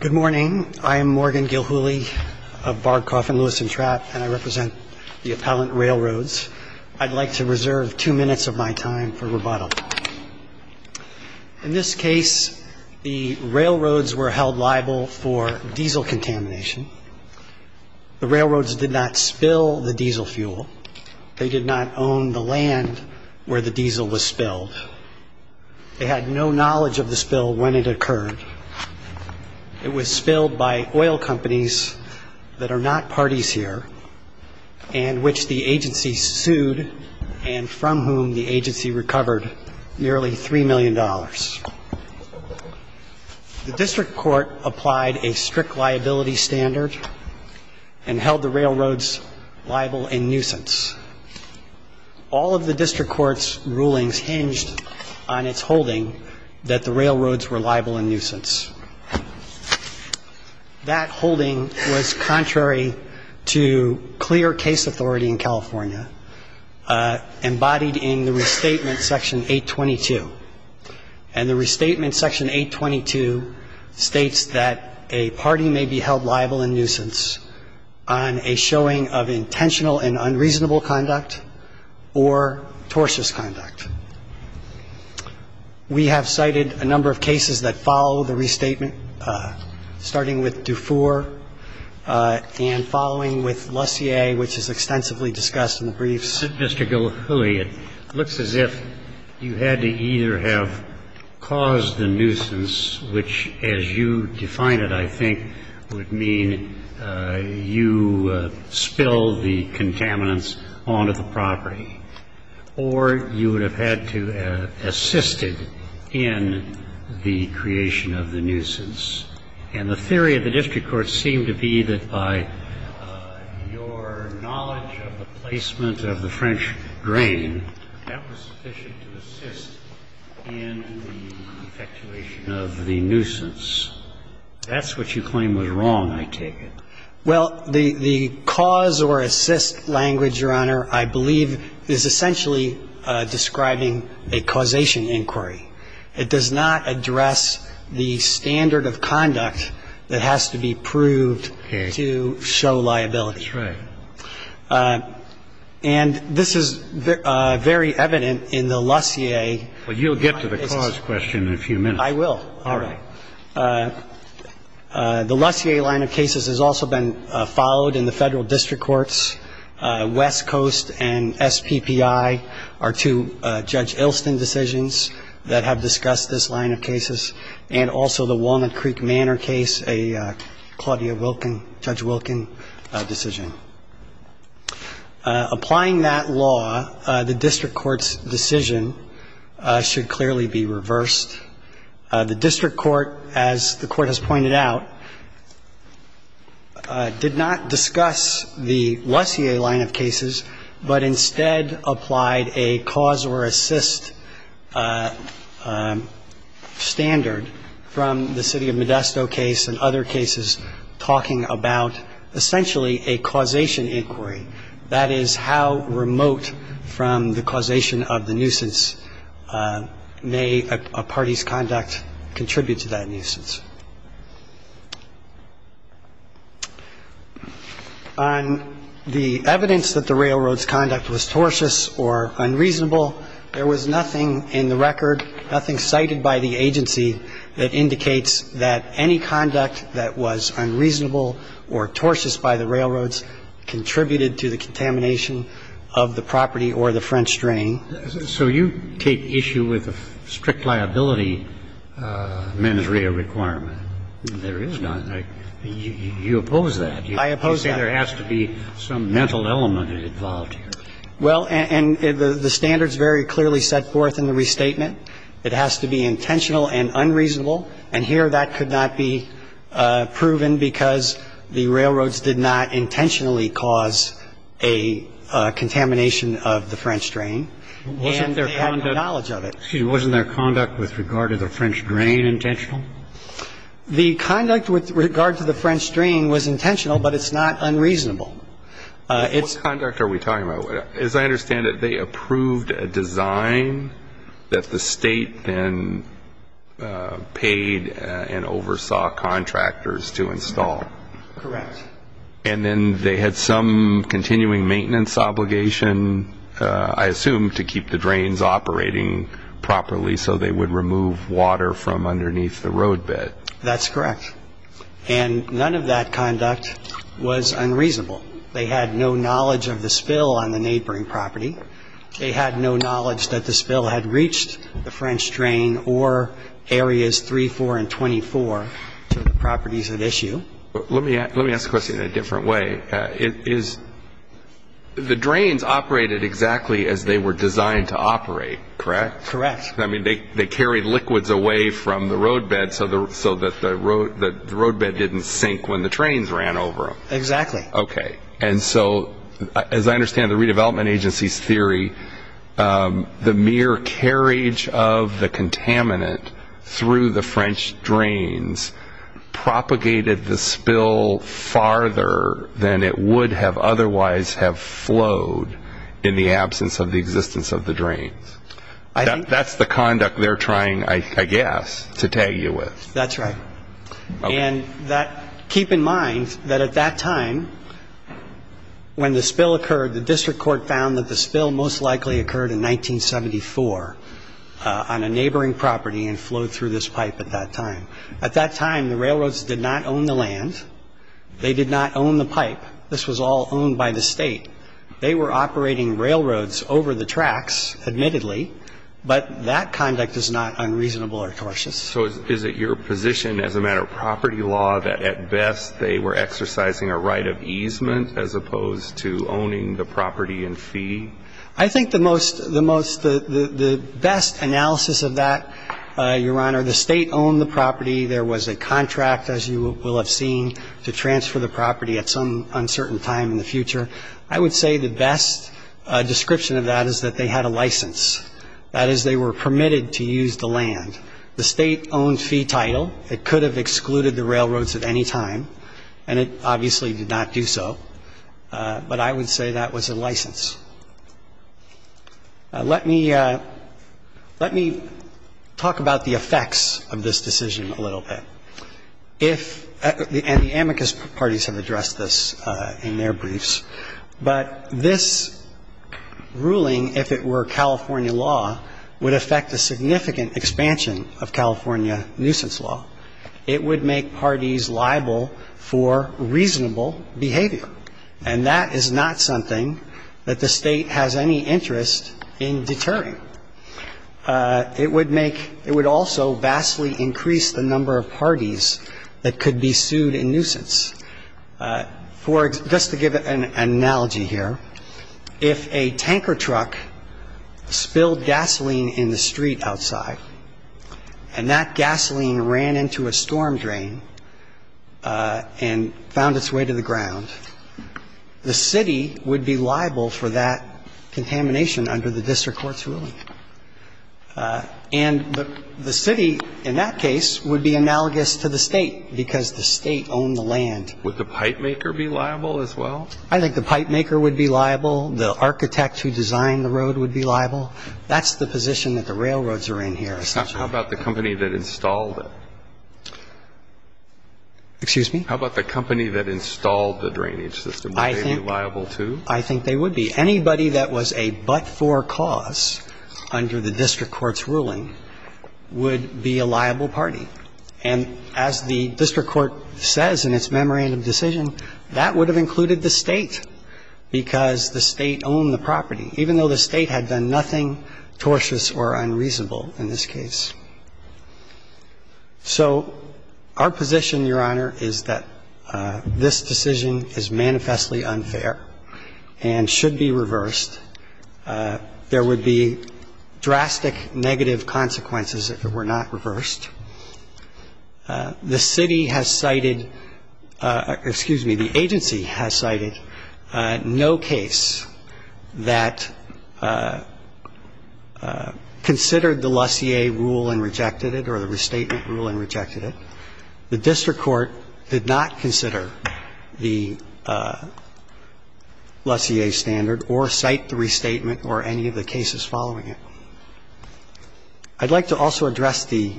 Good morning. I am Morgan Gilhooly of Bard, Coffin, Lewis and Trapp, and I represent the appellant railroads. I'd like to reserve two minutes of my time for rebuttal. In this case, the railroads were held liable for diesel contamination. The railroads did not spill the diesel fuel. They did not own the land where the diesel was spilled. They had no It was spilled by oil companies that are not parties here, and which the agency sued, and from whom the agency recovered nearly $3 million. The district court applied a strict liability standard and held the railroads liable in nuisance. All of the district court's rulings hinged on its holding that the railroads were liable in nuisance. That holding was contrary to clear case authority in California, embodied in the Restatement Section 822. And the Restatement Section 822 states that a party may be held liable in nuisance on a showing of intentional and unreasonable conduct or tortious conduct. We have cited a number of cases that follow the Restatement, starting with Dufour and following with Lussier, which is extensively discussed in the briefs. Mr. Gilhooly, it looks as if you had to either have caused the nuisance, which, as you have said, is the case, to spill the contaminants onto the property, or you would have had to have assisted in the creation of the nuisance. And the theory of the district court seemed to be that by your knowledge of the placement of the French grain, that was sufficient to assist in the effectuation of the nuisance. That's what you claim was wrong, I take it. Well, the cause-or-assist language, Your Honor, I believe, is essentially describing a causation inquiry. It does not address the standard of conduct that has to be proved to show liability. That's right. And this is very evident in the Lussier. Well, you'll get to the cause question in a few minutes. I will. All right. The Lussier line of cases has also been followed in the federal district courts. West Coast and SPPI are two Judge Ilston decisions that have discussed this line of cases. And also the Walnut Creek Manor case, a Claudia Wilkin, Judge Wilkin decision. Applying that law, the district court's decision should clearly be reversed. The district court, as the Court has pointed out, did not discuss the Lussier line of cases, but instead applied a cause-or-assist standard from the City of Modesto case and other cases talking about essentially a causation inquiry. That is how remote from the causation of the nuisance may a party's conduct contribute to that nuisance. On the evidence that the railroad's conduct was tortuous or unreasonable, there was nothing in the record, nothing cited by the agency that indicates that any conduct that was unreasonable or tortuous by the railroads contributed to the contamination of the property or the French drain. So you take issue with a strict liability mens rea requirement. There is none. You oppose that. I oppose that. You say there has to be some mental element involved here. Well, and the standard's very clearly set forth in the restatement. It has to be intentional and unreasonable. And here, that could not be proven because the railroads did not intentionally cause a contamination of the French drain, and they had no knowledge of it. Wasn't their conduct with regard to the French drain intentional? The conduct with regard to the French drain was intentional, but it's not unreasonable. What conduct are we talking about? As I understand it, they approved a design that the state then paid and oversaw contractors to install. Correct. And then they had some continuing maintenance obligation, I assume, to keep the drains operating properly so they would remove water from underneath the roadbed. That's correct. And none of that conduct was unreasonable. They had no knowledge of the spill on the neighboring property. They had no knowledge that the spill had reached the French drain or areas 3, 4, and 24 to the properties at issue. Let me ask the question in a different way. Is the drains operated exactly as they were designed to operate, correct? Correct. I mean, they carried liquids away from the roadbed so that the roadbed didn't sink when the trains ran over them. Exactly. Okay. And so, as I understand the Redevelopment Agency's theory, the mere carriage of the contaminant through the French drains propagated the spill farther than it would have otherwise have flowed in the absence of the existence of the drains. That's the conduct they're trying, I guess, to tag you with. That's right. And keep in mind that at that time when the spill occurred, the district court found that the spill most likely occurred in 1974 on a neighboring property and flowed through this pipe at that time. At that time, the railroads did not own the land. They did not own the pipe. This was all owned by the state. They were operating railroads over the tracks, admittedly, but that conduct is not unreasonable or cautious. So is it your position as a matter of property law that, at best, they were exercising a right of easement as opposed to owning the property in fee? I think the best analysis of that, Your Honor, the state owned the property. There was a contract, as you will have seen, to transfer the property at some uncertain time in the future. I would say the best description of that is that they had a license. That is, they were permitted to use the land. The state owned fee title. It could have excluded the railroads at any time, and it obviously did not do so, but I would say that was a license. Let me talk about the effects of this decision a little bit. If, and the amicus parties have addressed this in their briefs, but this ruling, if it were California law, would affect a significant expansion of California nuisance law. It would make parties liable for reasonable behavior, and that is not something that the state has any interest in deterring. It would make, it would also vastly increase the number of parties that could be sued in nuisance. For, just to give an analogy here, if a tanker truck spilled gasoline in the street outside, and that gasoline ran into a storm drain and found its way to the ground, the city would be liable for that contamination under the district court's ruling. And the city, in that case, would be analogous to the state, because the state owned the land. Would the pipe maker be liable as well? I think the pipe maker would be liable. The architect who designed the road would be liable. That's the position that the railroads are in here, essentially. How about the company that installed it? Excuse me? How about the company that installed the drainage system? Would they be liable, too? I think they would be. Anybody that was a but-for cause under the district court's ruling would be a liable party. And as the district court says in its memorandum decision, that would have included the state, because the state owned the property, even though the state had done nothing tortious or unreasonable in this case. So our position, Your Honor, is that this decision is manifestly unfair and should be reversed. There would be drastic negative consequences if it were not reversed. The city has cited – excuse me, the agency has cited no case that considered the Lussier rule and rejected it, or the restatement rule and rejected it. The district court did not consider the Lussier standard or cite the restatement or any of the cases following it. I'd like to also address the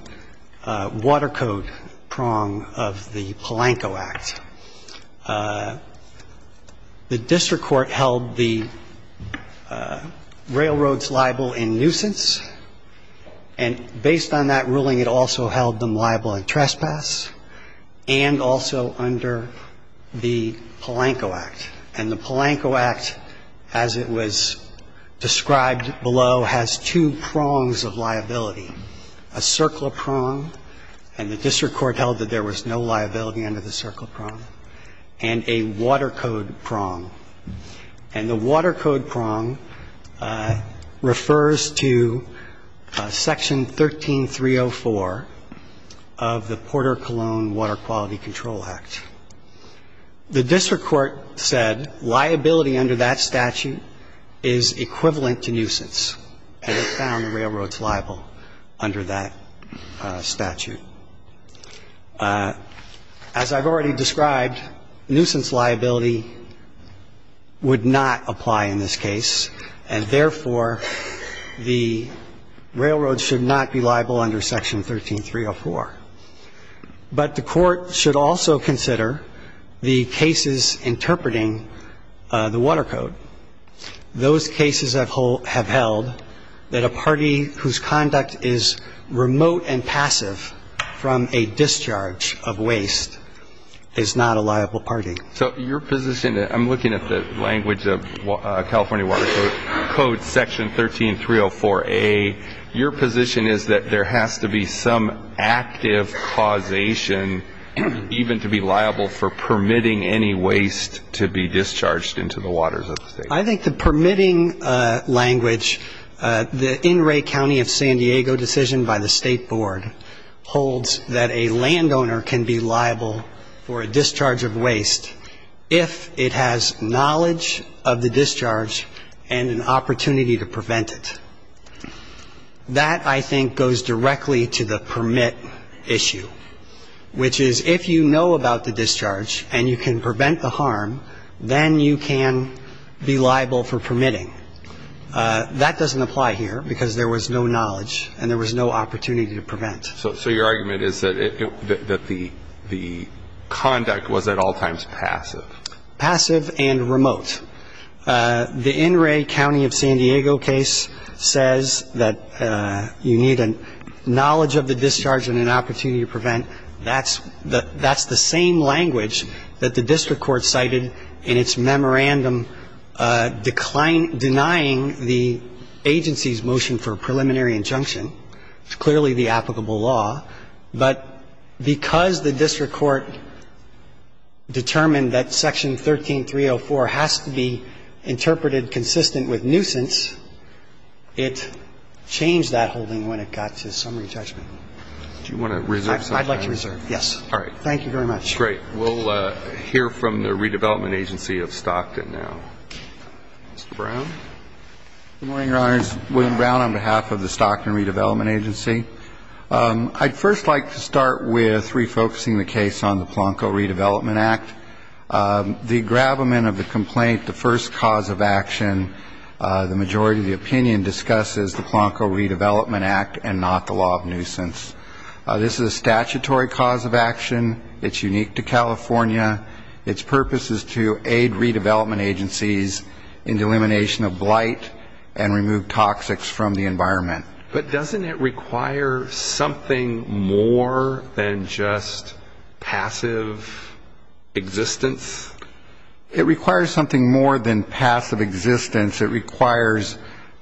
water code prong of the Polanco Act. The district court held the railroads liable in nuisance, and based on that ruling, it also held them liable in trespass and also under the Polanco Act. And the Polanco Act, as it was described below, has two prongs of liability, a circler prong, and the district court held that there was no liability under the circler prong, and a water code prong. And the water code prong refers to Section 13304 of the Porter-Cologne Water Quality Control Act. The district court said liability under that statute is equivalent to nuisance, and it found the railroads liable under that statute. As I've already described, nuisance liability would not apply in this case, and therefore, the railroads should not be liable under Section 13304. But the court should also consider the cases interpreting the water code. Those cases have held that a party whose conduct is remote and passive from a discharge of waste is not a liable party. So your position, I'm looking at the language of California Water Code, Section 13304a. Your position is that there has to be some active causation even to be liable for permitting any waste to be discharged into the waters of the state. I think the permitting language, the In re County of San Diego decision by the state board holds that a landowner can be liable for a discharge of waste if it has knowledge of the discharge and an opportunity to prevent it. That, I think, goes directly to the permit issue, which is if you know about the discharge and you can prevent the harm, then you can be liable for permitting. That doesn't apply here because there was no knowledge and there was no opportunity to prevent. So your argument is that the conduct was at all times passive? Passive and remote. The In re County of San Diego case says that you need a knowledge of the discharge and an opportunity to prevent. That's the same language that the district court cited in its memorandum denying the agency's motion for a preliminary injunction. It's clearly the applicable law. But because the district court determined that Section 13304 has to be interpreted consistent with nuisance, it changed that holding when it got to summary judgment. Do you want to reserve some time? I'd like to reserve, yes. All right. Thank you very much. Great. We'll hear from the Redevelopment Agency of Stockton now. Mr. Brown? Good morning, Your Honors. William Brown on behalf of the Stockton Redevelopment Agency. I'd first like to start with refocusing the case on the Polanco Redevelopment Act. The gravamen of the complaint, the first cause of action, the majority of the opinion discusses the Polanco Redevelopment Act and not the law of nuisance. This is a statutory cause of action. It's unique to California. Its purpose is to aid redevelopment agencies in the elimination of blight and remove toxics from the environment. But doesn't it require something more than just passive existence? It requires something more than passive existence. It requires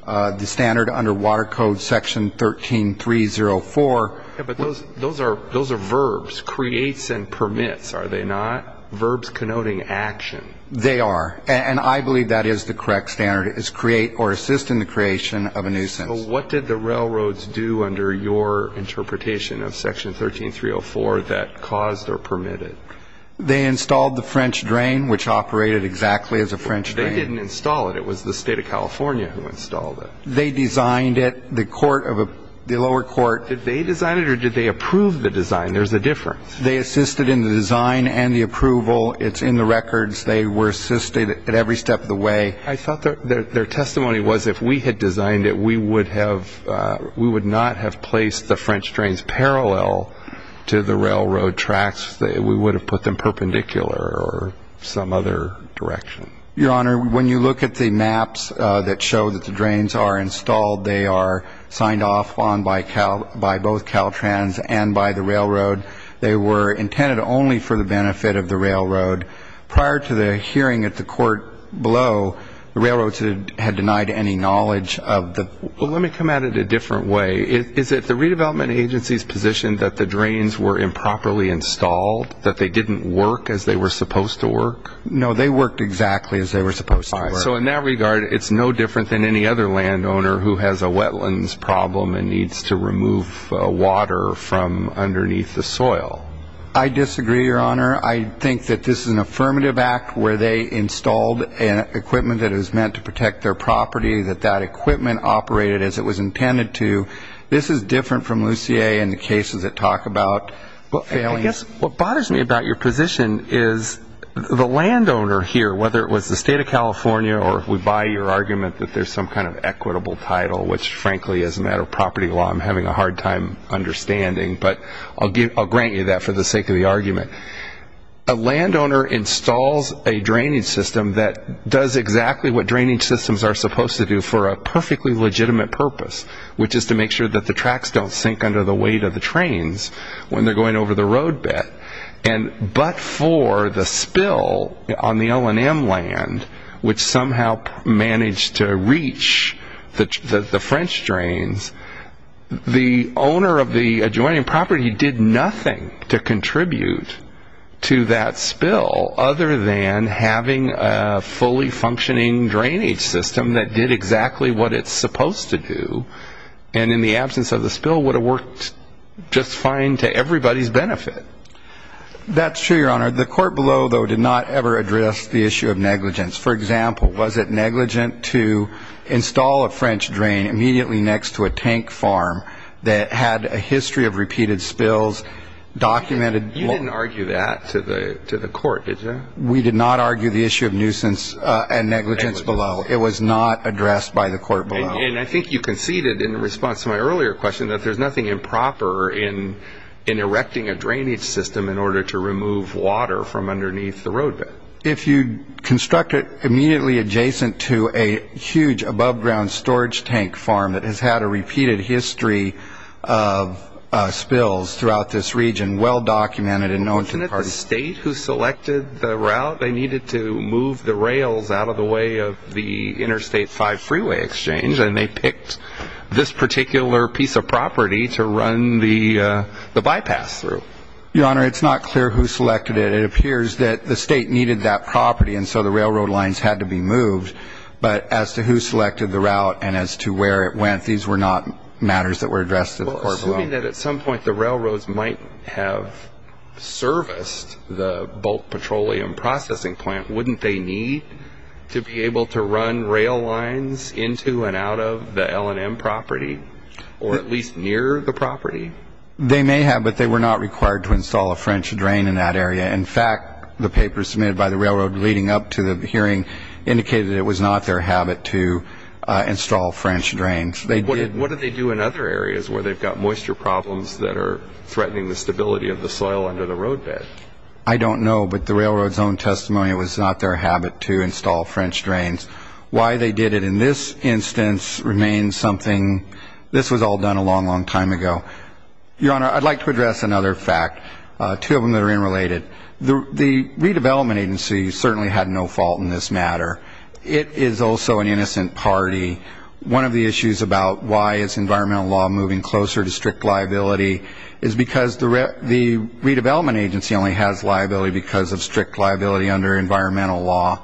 the standard under Water Code Section 13304. But those are verbs, creates and permits, are they not? Verbs connoting action. They are. And I believe that is the correct standard, is create or assist in the creation of a nuisance. What did the railroads do under your interpretation of Section 13304 that caused or permitted? They installed the French drain, which operated exactly as a French drain. They didn't install it. It was the state of California who installed it. They designed it. The court of a, the lower court. Did they design it or did they approve the design? There's a difference. They assisted in the design and the approval. It's in the records. They were assisted at every step of the way. I thought their testimony was if we had designed it, we would have, we would not have placed the French drains parallel to the railroad tracks. We would have put them perpendicular or some other direction. Your Honor, when you look at the maps that show that the drains are installed, they are signed off on by Cal, by both Caltrans and by the railroad. They were intended only for the benefit of the railroad. Prior to the hearing at the court below, the railroads had denied any knowledge of the. Let me come at it a different way. Is it the redevelopment agency's position that the drains were improperly installed, that they didn't work as they were supposed to work? No, they worked exactly as they were supposed to work. So in that regard, it's no different than any other landowner who has a wetlands problem and needs to remove water from underneath the soil. I disagree, Your Honor. I think that this is an affirmative act where they installed equipment that is meant to protect their property, that that equipment operated as it was intended to. This is different from Lucier and the cases that talk about failing. What bothers me about your position is the landowner here, whether it was the state of California or we buy your argument that there's some kind of equitable title, which frankly, as a matter of property law, I'm having a hard time understanding, but I'll grant you that for the sake of the argument. A landowner installs a drainage system that does exactly what drainage systems are supposed to do for a perfectly legitimate purpose, which is to make sure that the tracks don't sink under the weight of the trains when they're going over the road bed, but for the spill on the L&M land, which somehow managed to reach the French drains, the owner of the adjoining property did nothing to contribute to that spill other than having a fully functioning drainage system that did exactly what it's supposed to do, and in the absence of the spill would have worked just fine to everybody's benefit. That's true, Your Honor. The court below, though, did not ever address the issue of negligence. For example, was it negligent to install a French drain immediately next to a tank farm that had a history of repeated spills documented? You didn't argue that to the court, did you? We did not argue the issue of nuisance and negligence below. It was not addressed by the court below. I think you conceded in response to my earlier question that there's nothing improper in erecting a drainage system in order to remove water from underneath the road bed. If you construct it immediately adjacent to a huge above-ground storage tank farm that has had a repeated history of spills throughout this region, well-documented and known to the parties. Wasn't it the state who selected the route? They needed to move the rails out of the way of the Interstate 5 freeway exchange, and they picked this particular piece of property to run the bypass through. Your Honor, it's not clear who selected it. It appears that the state needed that property, and so the railroad lines had to be moved. But as to who selected the route and as to where it went, these were not matters that were addressed at the court below. Assuming that at some point the railroads might have serviced the bulk petroleum processing plant, wouldn't they need to be able to run rail lines into and out of the L&M property, or at least near the property? They may have, but they were not required to install a French drain in that area. In fact, the papers submitted by the railroad leading up to the hearing indicated it was not their habit to install French drains. What do they do in other areas where they've got moisture problems that are threatening the stability of the soil under the roadbed? I don't know, but the railroad's own testimony, it was not their habit to install French drains. Why they did it in this instance remains something. This was all done a long, long time ago. Your Honor, I'd like to address another fact, two of them that are unrelated. The Redevelopment Agency certainly had no fault in this matter. It is also an innocent party. One of the issues about why is environmental law moving closer to strict liability is because the Redevelopment Agency only has liability because of strict liability under environmental law.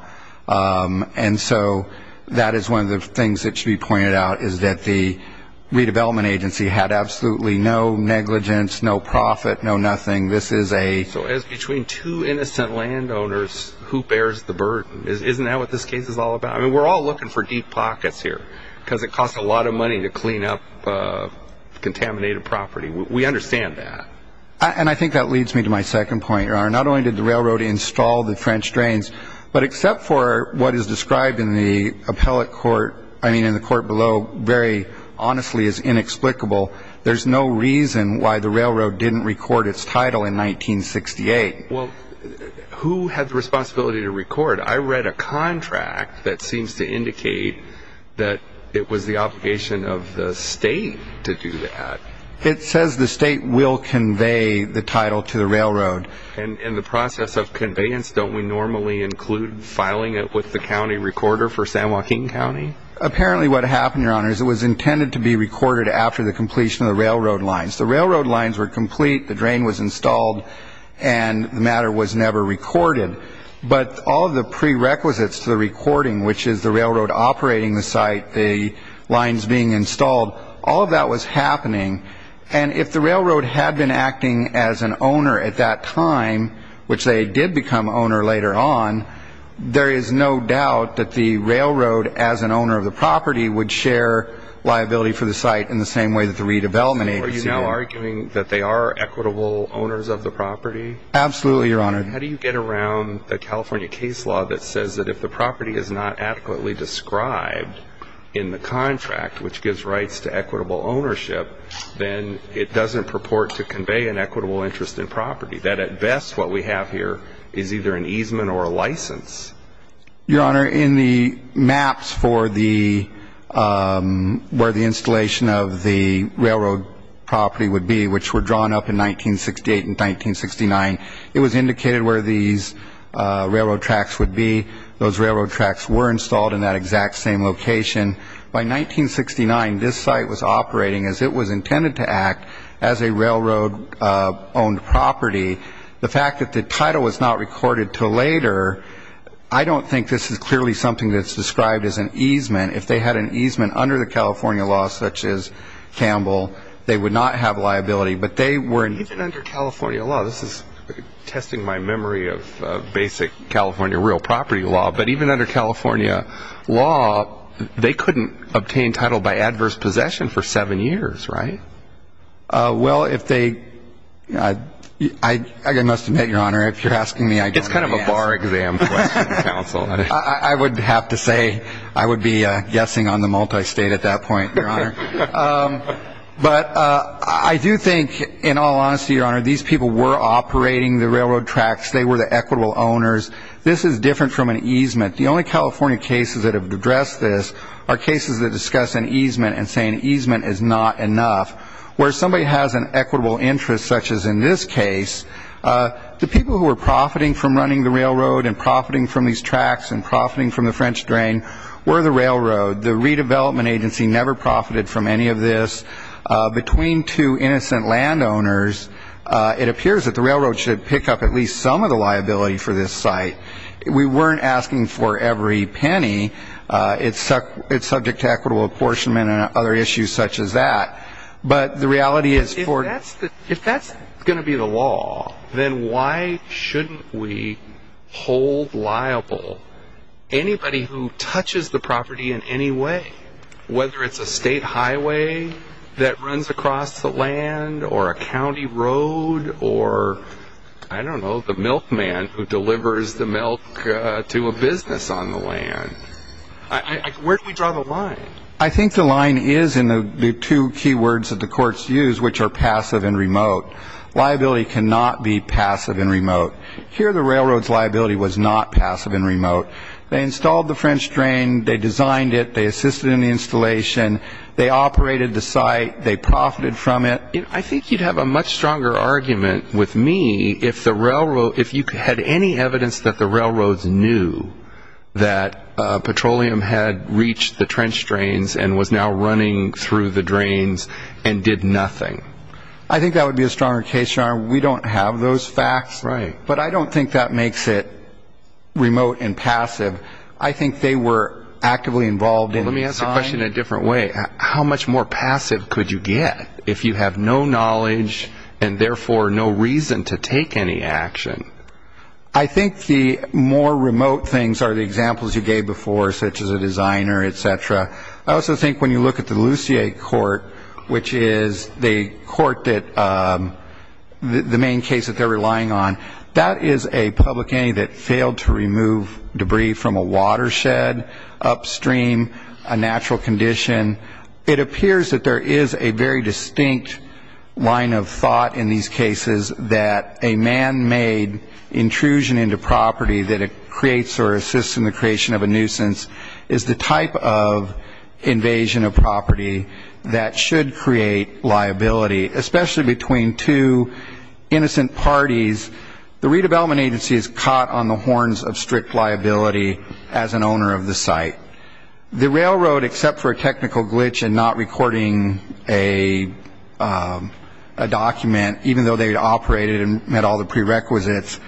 And so that is one of the things that should be pointed out, is that the Redevelopment Agency had absolutely no negligence, no profit, no nothing. This is a... So it's between two innocent landowners, who bears the burden? Isn't that what this case is all about? I mean, we're all looking for deep pockets here, because it costs a lot of money to clean up contaminated property. We understand that. And I think that leads me to my second point, Your Honor. Not only did the railroad install the French drains, but except for what is described in the appellate court, I mean, in the court below, very honestly is inexplicable, there's no reason why the railroad didn't record its title in 1968. Well, who had the responsibility to record? I read a contract that seems to indicate that it was the obligation of the state to do that. It says the state will convey the title to the railroad. And in the process of conveyance, don't we normally include filing it with the county recorder for San Joaquin County? Apparently what happened, Your Honor, is it was intended to be recorded after the completion of the railroad lines. The railroad lines were complete, the drain was installed, and the matter was never recorded. But all of the prerequisites to the recording, which is the railroad operating the site, the lines being installed, all of that was happening. And if the railroad had been acting as an owner at that time, which they did become owner later on, there is no doubt that the railroad, as an owner of the property, would share liability for the site in the same way that the redevelopment agency did. Are you now arguing that they are equitable owners of the property? Absolutely, Your Honor. How do you get around the California case law that says that if the property is not adequately described in the contract, which gives rights to equitable ownership, then it doesn't purport to convey an equitable interest in property, that at best what we have here is either an easement or a license? Your Honor, in the maps for where the installation of the railroad property would be, which were drawn up in 1968 and 1969, it was indicated where these railroad tracks would be. Those railroad tracks were installed in that exact same location. By 1969, this site was operating as it was intended to act as a railroad-owned property. The fact that the title was not recorded until later, I don't think this is clearly something that's described as an easement. If they had an easement under the California law, such as Campbell, they would not have liability. Even under California law, this is testing my memory of basic California real property law, but even under California law, they couldn't obtain title by adverse possession for seven years, right? Well, I must admit, Your Honor, if you're asking me, I don't know the answer. I would have to say I would be guessing on the multistate at that point, Your Honor. But I do think, in all honesty, Your Honor, these people were operating the railroad tracks. They were the equitable owners. This is different from an easement. The only California cases that have addressed this are cases that discuss an easement and say an easement is not enough. Where somebody has an equitable interest, such as in this case, the people who were profiting from running the railroad and profiting from these tracks and profiting from the French drain were the railroad. The redevelopment agency never profited from any of this. Between two innocent landowners, it appears that the railroad should pick up at least some of the liability for this site. We weren't asking for every penny. It's subject to equitable apportionment and other issues such as that. If that's going to be the law, then why shouldn't we hold liable anybody who touches the property in any way, whether it's a state highway that runs across the land or a county road or, I don't know, the milkman who delivers the milk to a business on the land? Where do we draw the line? I think the line is in the two key words that the courts use, which are passive and remote. Liability cannot be passive and remote. Here the railroad's liability was not passive and remote. They installed the French drain. They designed it. They assisted in the installation. They operated the site. They profited from it. I think you'd have a much stronger argument with me if the railroad, if you had any evidence that the railroads knew that petroleum had reached the trench drains and was now running through the drains and did nothing. I think that would be a stronger case, Your Honor. We don't have those facts. But I don't think that makes it remote and passive. I think they were actively involved in the design. Let me ask the question a different way. How much more passive could you get if you have no knowledge and, therefore, no reason to take any action? I think the more remote things are the examples you gave before, such as a designer, et cetera. I also think when you look at the Lussier court, which is the court that the main case that they're relying on, that is a public entity that failed to remove debris from a watershed upstream, a natural condition. It appears that there is a very distinct line of thought in these cases that a man-made intrusion into property that it creates or assists in the creation of a nuisance is the type of invasion of property that should create liability. Especially between two innocent parties, the redevelopment agency is caught on the horns of strict liability as an owner of the site. The railroad, except for a technical glitch in not recording a document, even though they had operated and met all the prerequisites,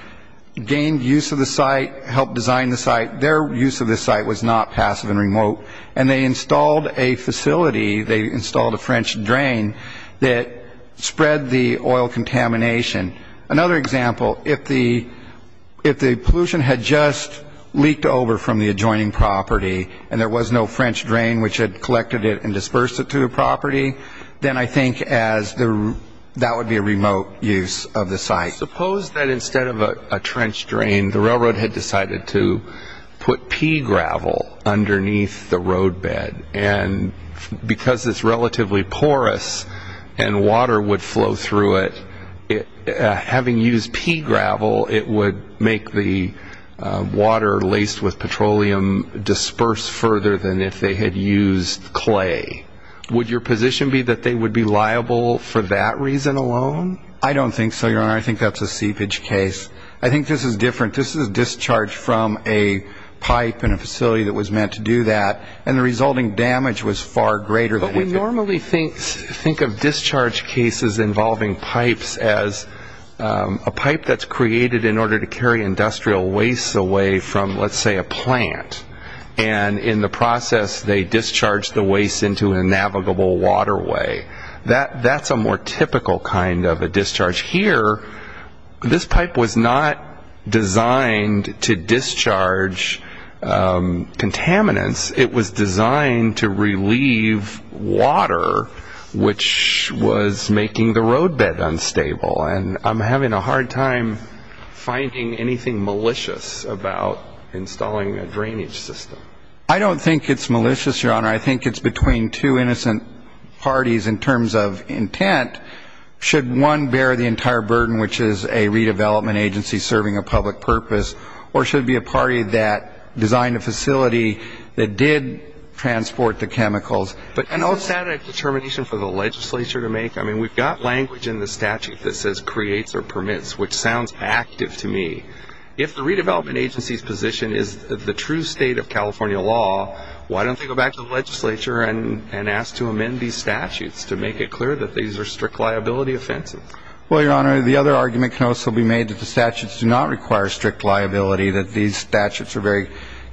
gained use of the site, helped design the site. Their use of the site was not passive and remote. And they installed a facility, they installed a French drain that spread the oil contamination. Another example, if the pollution had just leaked over from the adjoining property and there was no French drain which had collected it and dispersed it to the property, then I think that would be a remote use of the site. Suppose that instead of a trench drain, the railroad had decided to put pea gravel underneath the roadbed. And because it's relatively porous and water would flow through it, having used pea gravel, it would make the water laced with petroleum disperse further than if they had used clay. Would your position be that they would be liable for that reason alone? I don't think so, Your Honor. I think that's a seepage case. I think this is different. This is discharge from a pipe in a facility that was meant to do that. And the resulting damage was far greater. But we normally think of discharge cases involving pipes as a pipe that's created in order to carry industrial waste away from, let's say, a plant. And in the process, they discharge the waste into a navigable waterway. That's a more typical kind of a discharge. Here, this pipe was not designed to discharge contaminants. It was designed to relieve water, which was making the roadbed unstable. And I'm having a hard time finding anything malicious about installing a drainage system. I don't think it's malicious, Your Honor. I think it's between two innocent parties in terms of intent. Should one bear the entire burden, which is a redevelopment agency serving a public purpose, or should it be a party that designed a facility that did transport the chemicals? But is that a determination for the legislature to make? I mean, we've got language in the statute that says creates or permits, which sounds active to me. If the redevelopment agency's position is the true state of California law, why don't they go back to the legislature and ask to amend these statutes to make it clear that these are strict liability offenses? Well, Your Honor, the other argument can also be made that the statutes do not require strict liability, that these statutes are very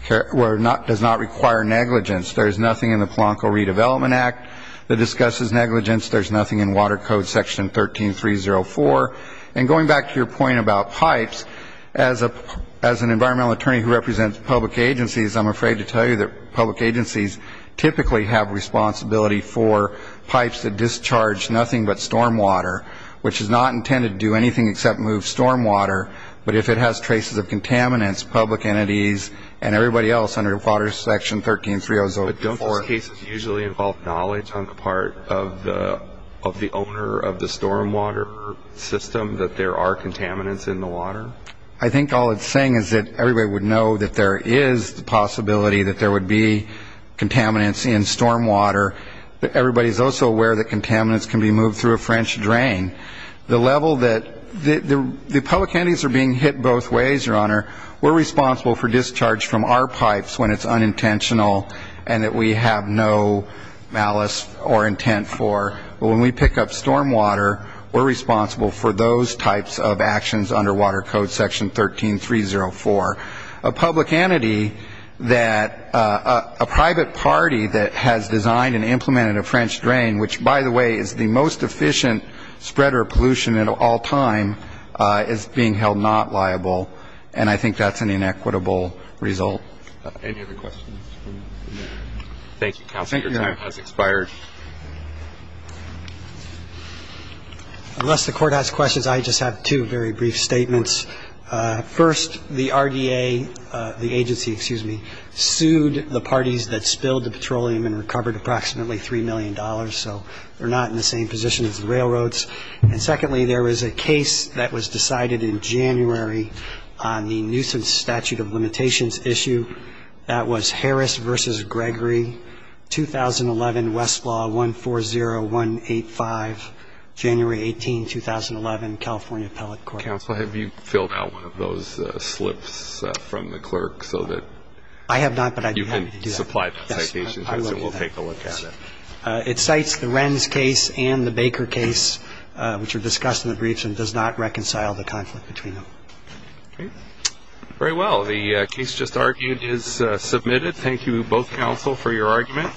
ñ does not require negligence. There is nothing in the Polanco Redevelopment Act that discusses negligence. There's nothing in Water Code Section 13304. And going back to your point about pipes, as an environmental attorney who represents public agencies, I'm afraid to tell you that public agencies typically have responsibility for pipes that discharge nothing but stormwater, which is not intended to do anything except move stormwater. But if it has traces of contaminants, public entities and everybody else under Water Section 13304 ñ But don't those cases usually involve knowledge on the part of the owner of the stormwater system that there are contaminants in the water? I think all it's saying is that everybody would know that there is the possibility that there would be contaminants in stormwater. Everybody is also aware that contaminants can be moved through a French drain. The level that ñ the public entities are being hit both ways, Your Honor. We're responsible for discharge from our pipes when it's unintentional and that we have no malice or intent for. But when we pick up stormwater, we're responsible for those types of actions under Water Code Section 13304. A public entity that a private party that has designed and implemented a French drain, which, by the way, is the most efficient spreader of pollution of all time, is being held not liable. And I think that's an inequitable result. Any other questions? Thank you, counsel. Your time has expired. Unless the Court has questions, I just have two very brief statements. First, the RDA, the agency, excuse me, sued the parties that spilled the petroleum and recovered approximately $3 million. So they're not in the same position as the railroads. And secondly, there was a case that was decided in January on the nuisance statute of limitations issue. That was Harris v. Gregory, 2011, Westlaw 140185, January 18, 2011, California Appellate Court. Counsel, have you filled out one of those slips from the clerk so that you can supply citations? Yes, I will do that. We'll take a look at it. It cites the Renz case and the Baker case, which are discussed in the briefs, and does not reconcile the conflict between them. Very well. The case just argued is submitted. Thank you, both counsel, for your argument.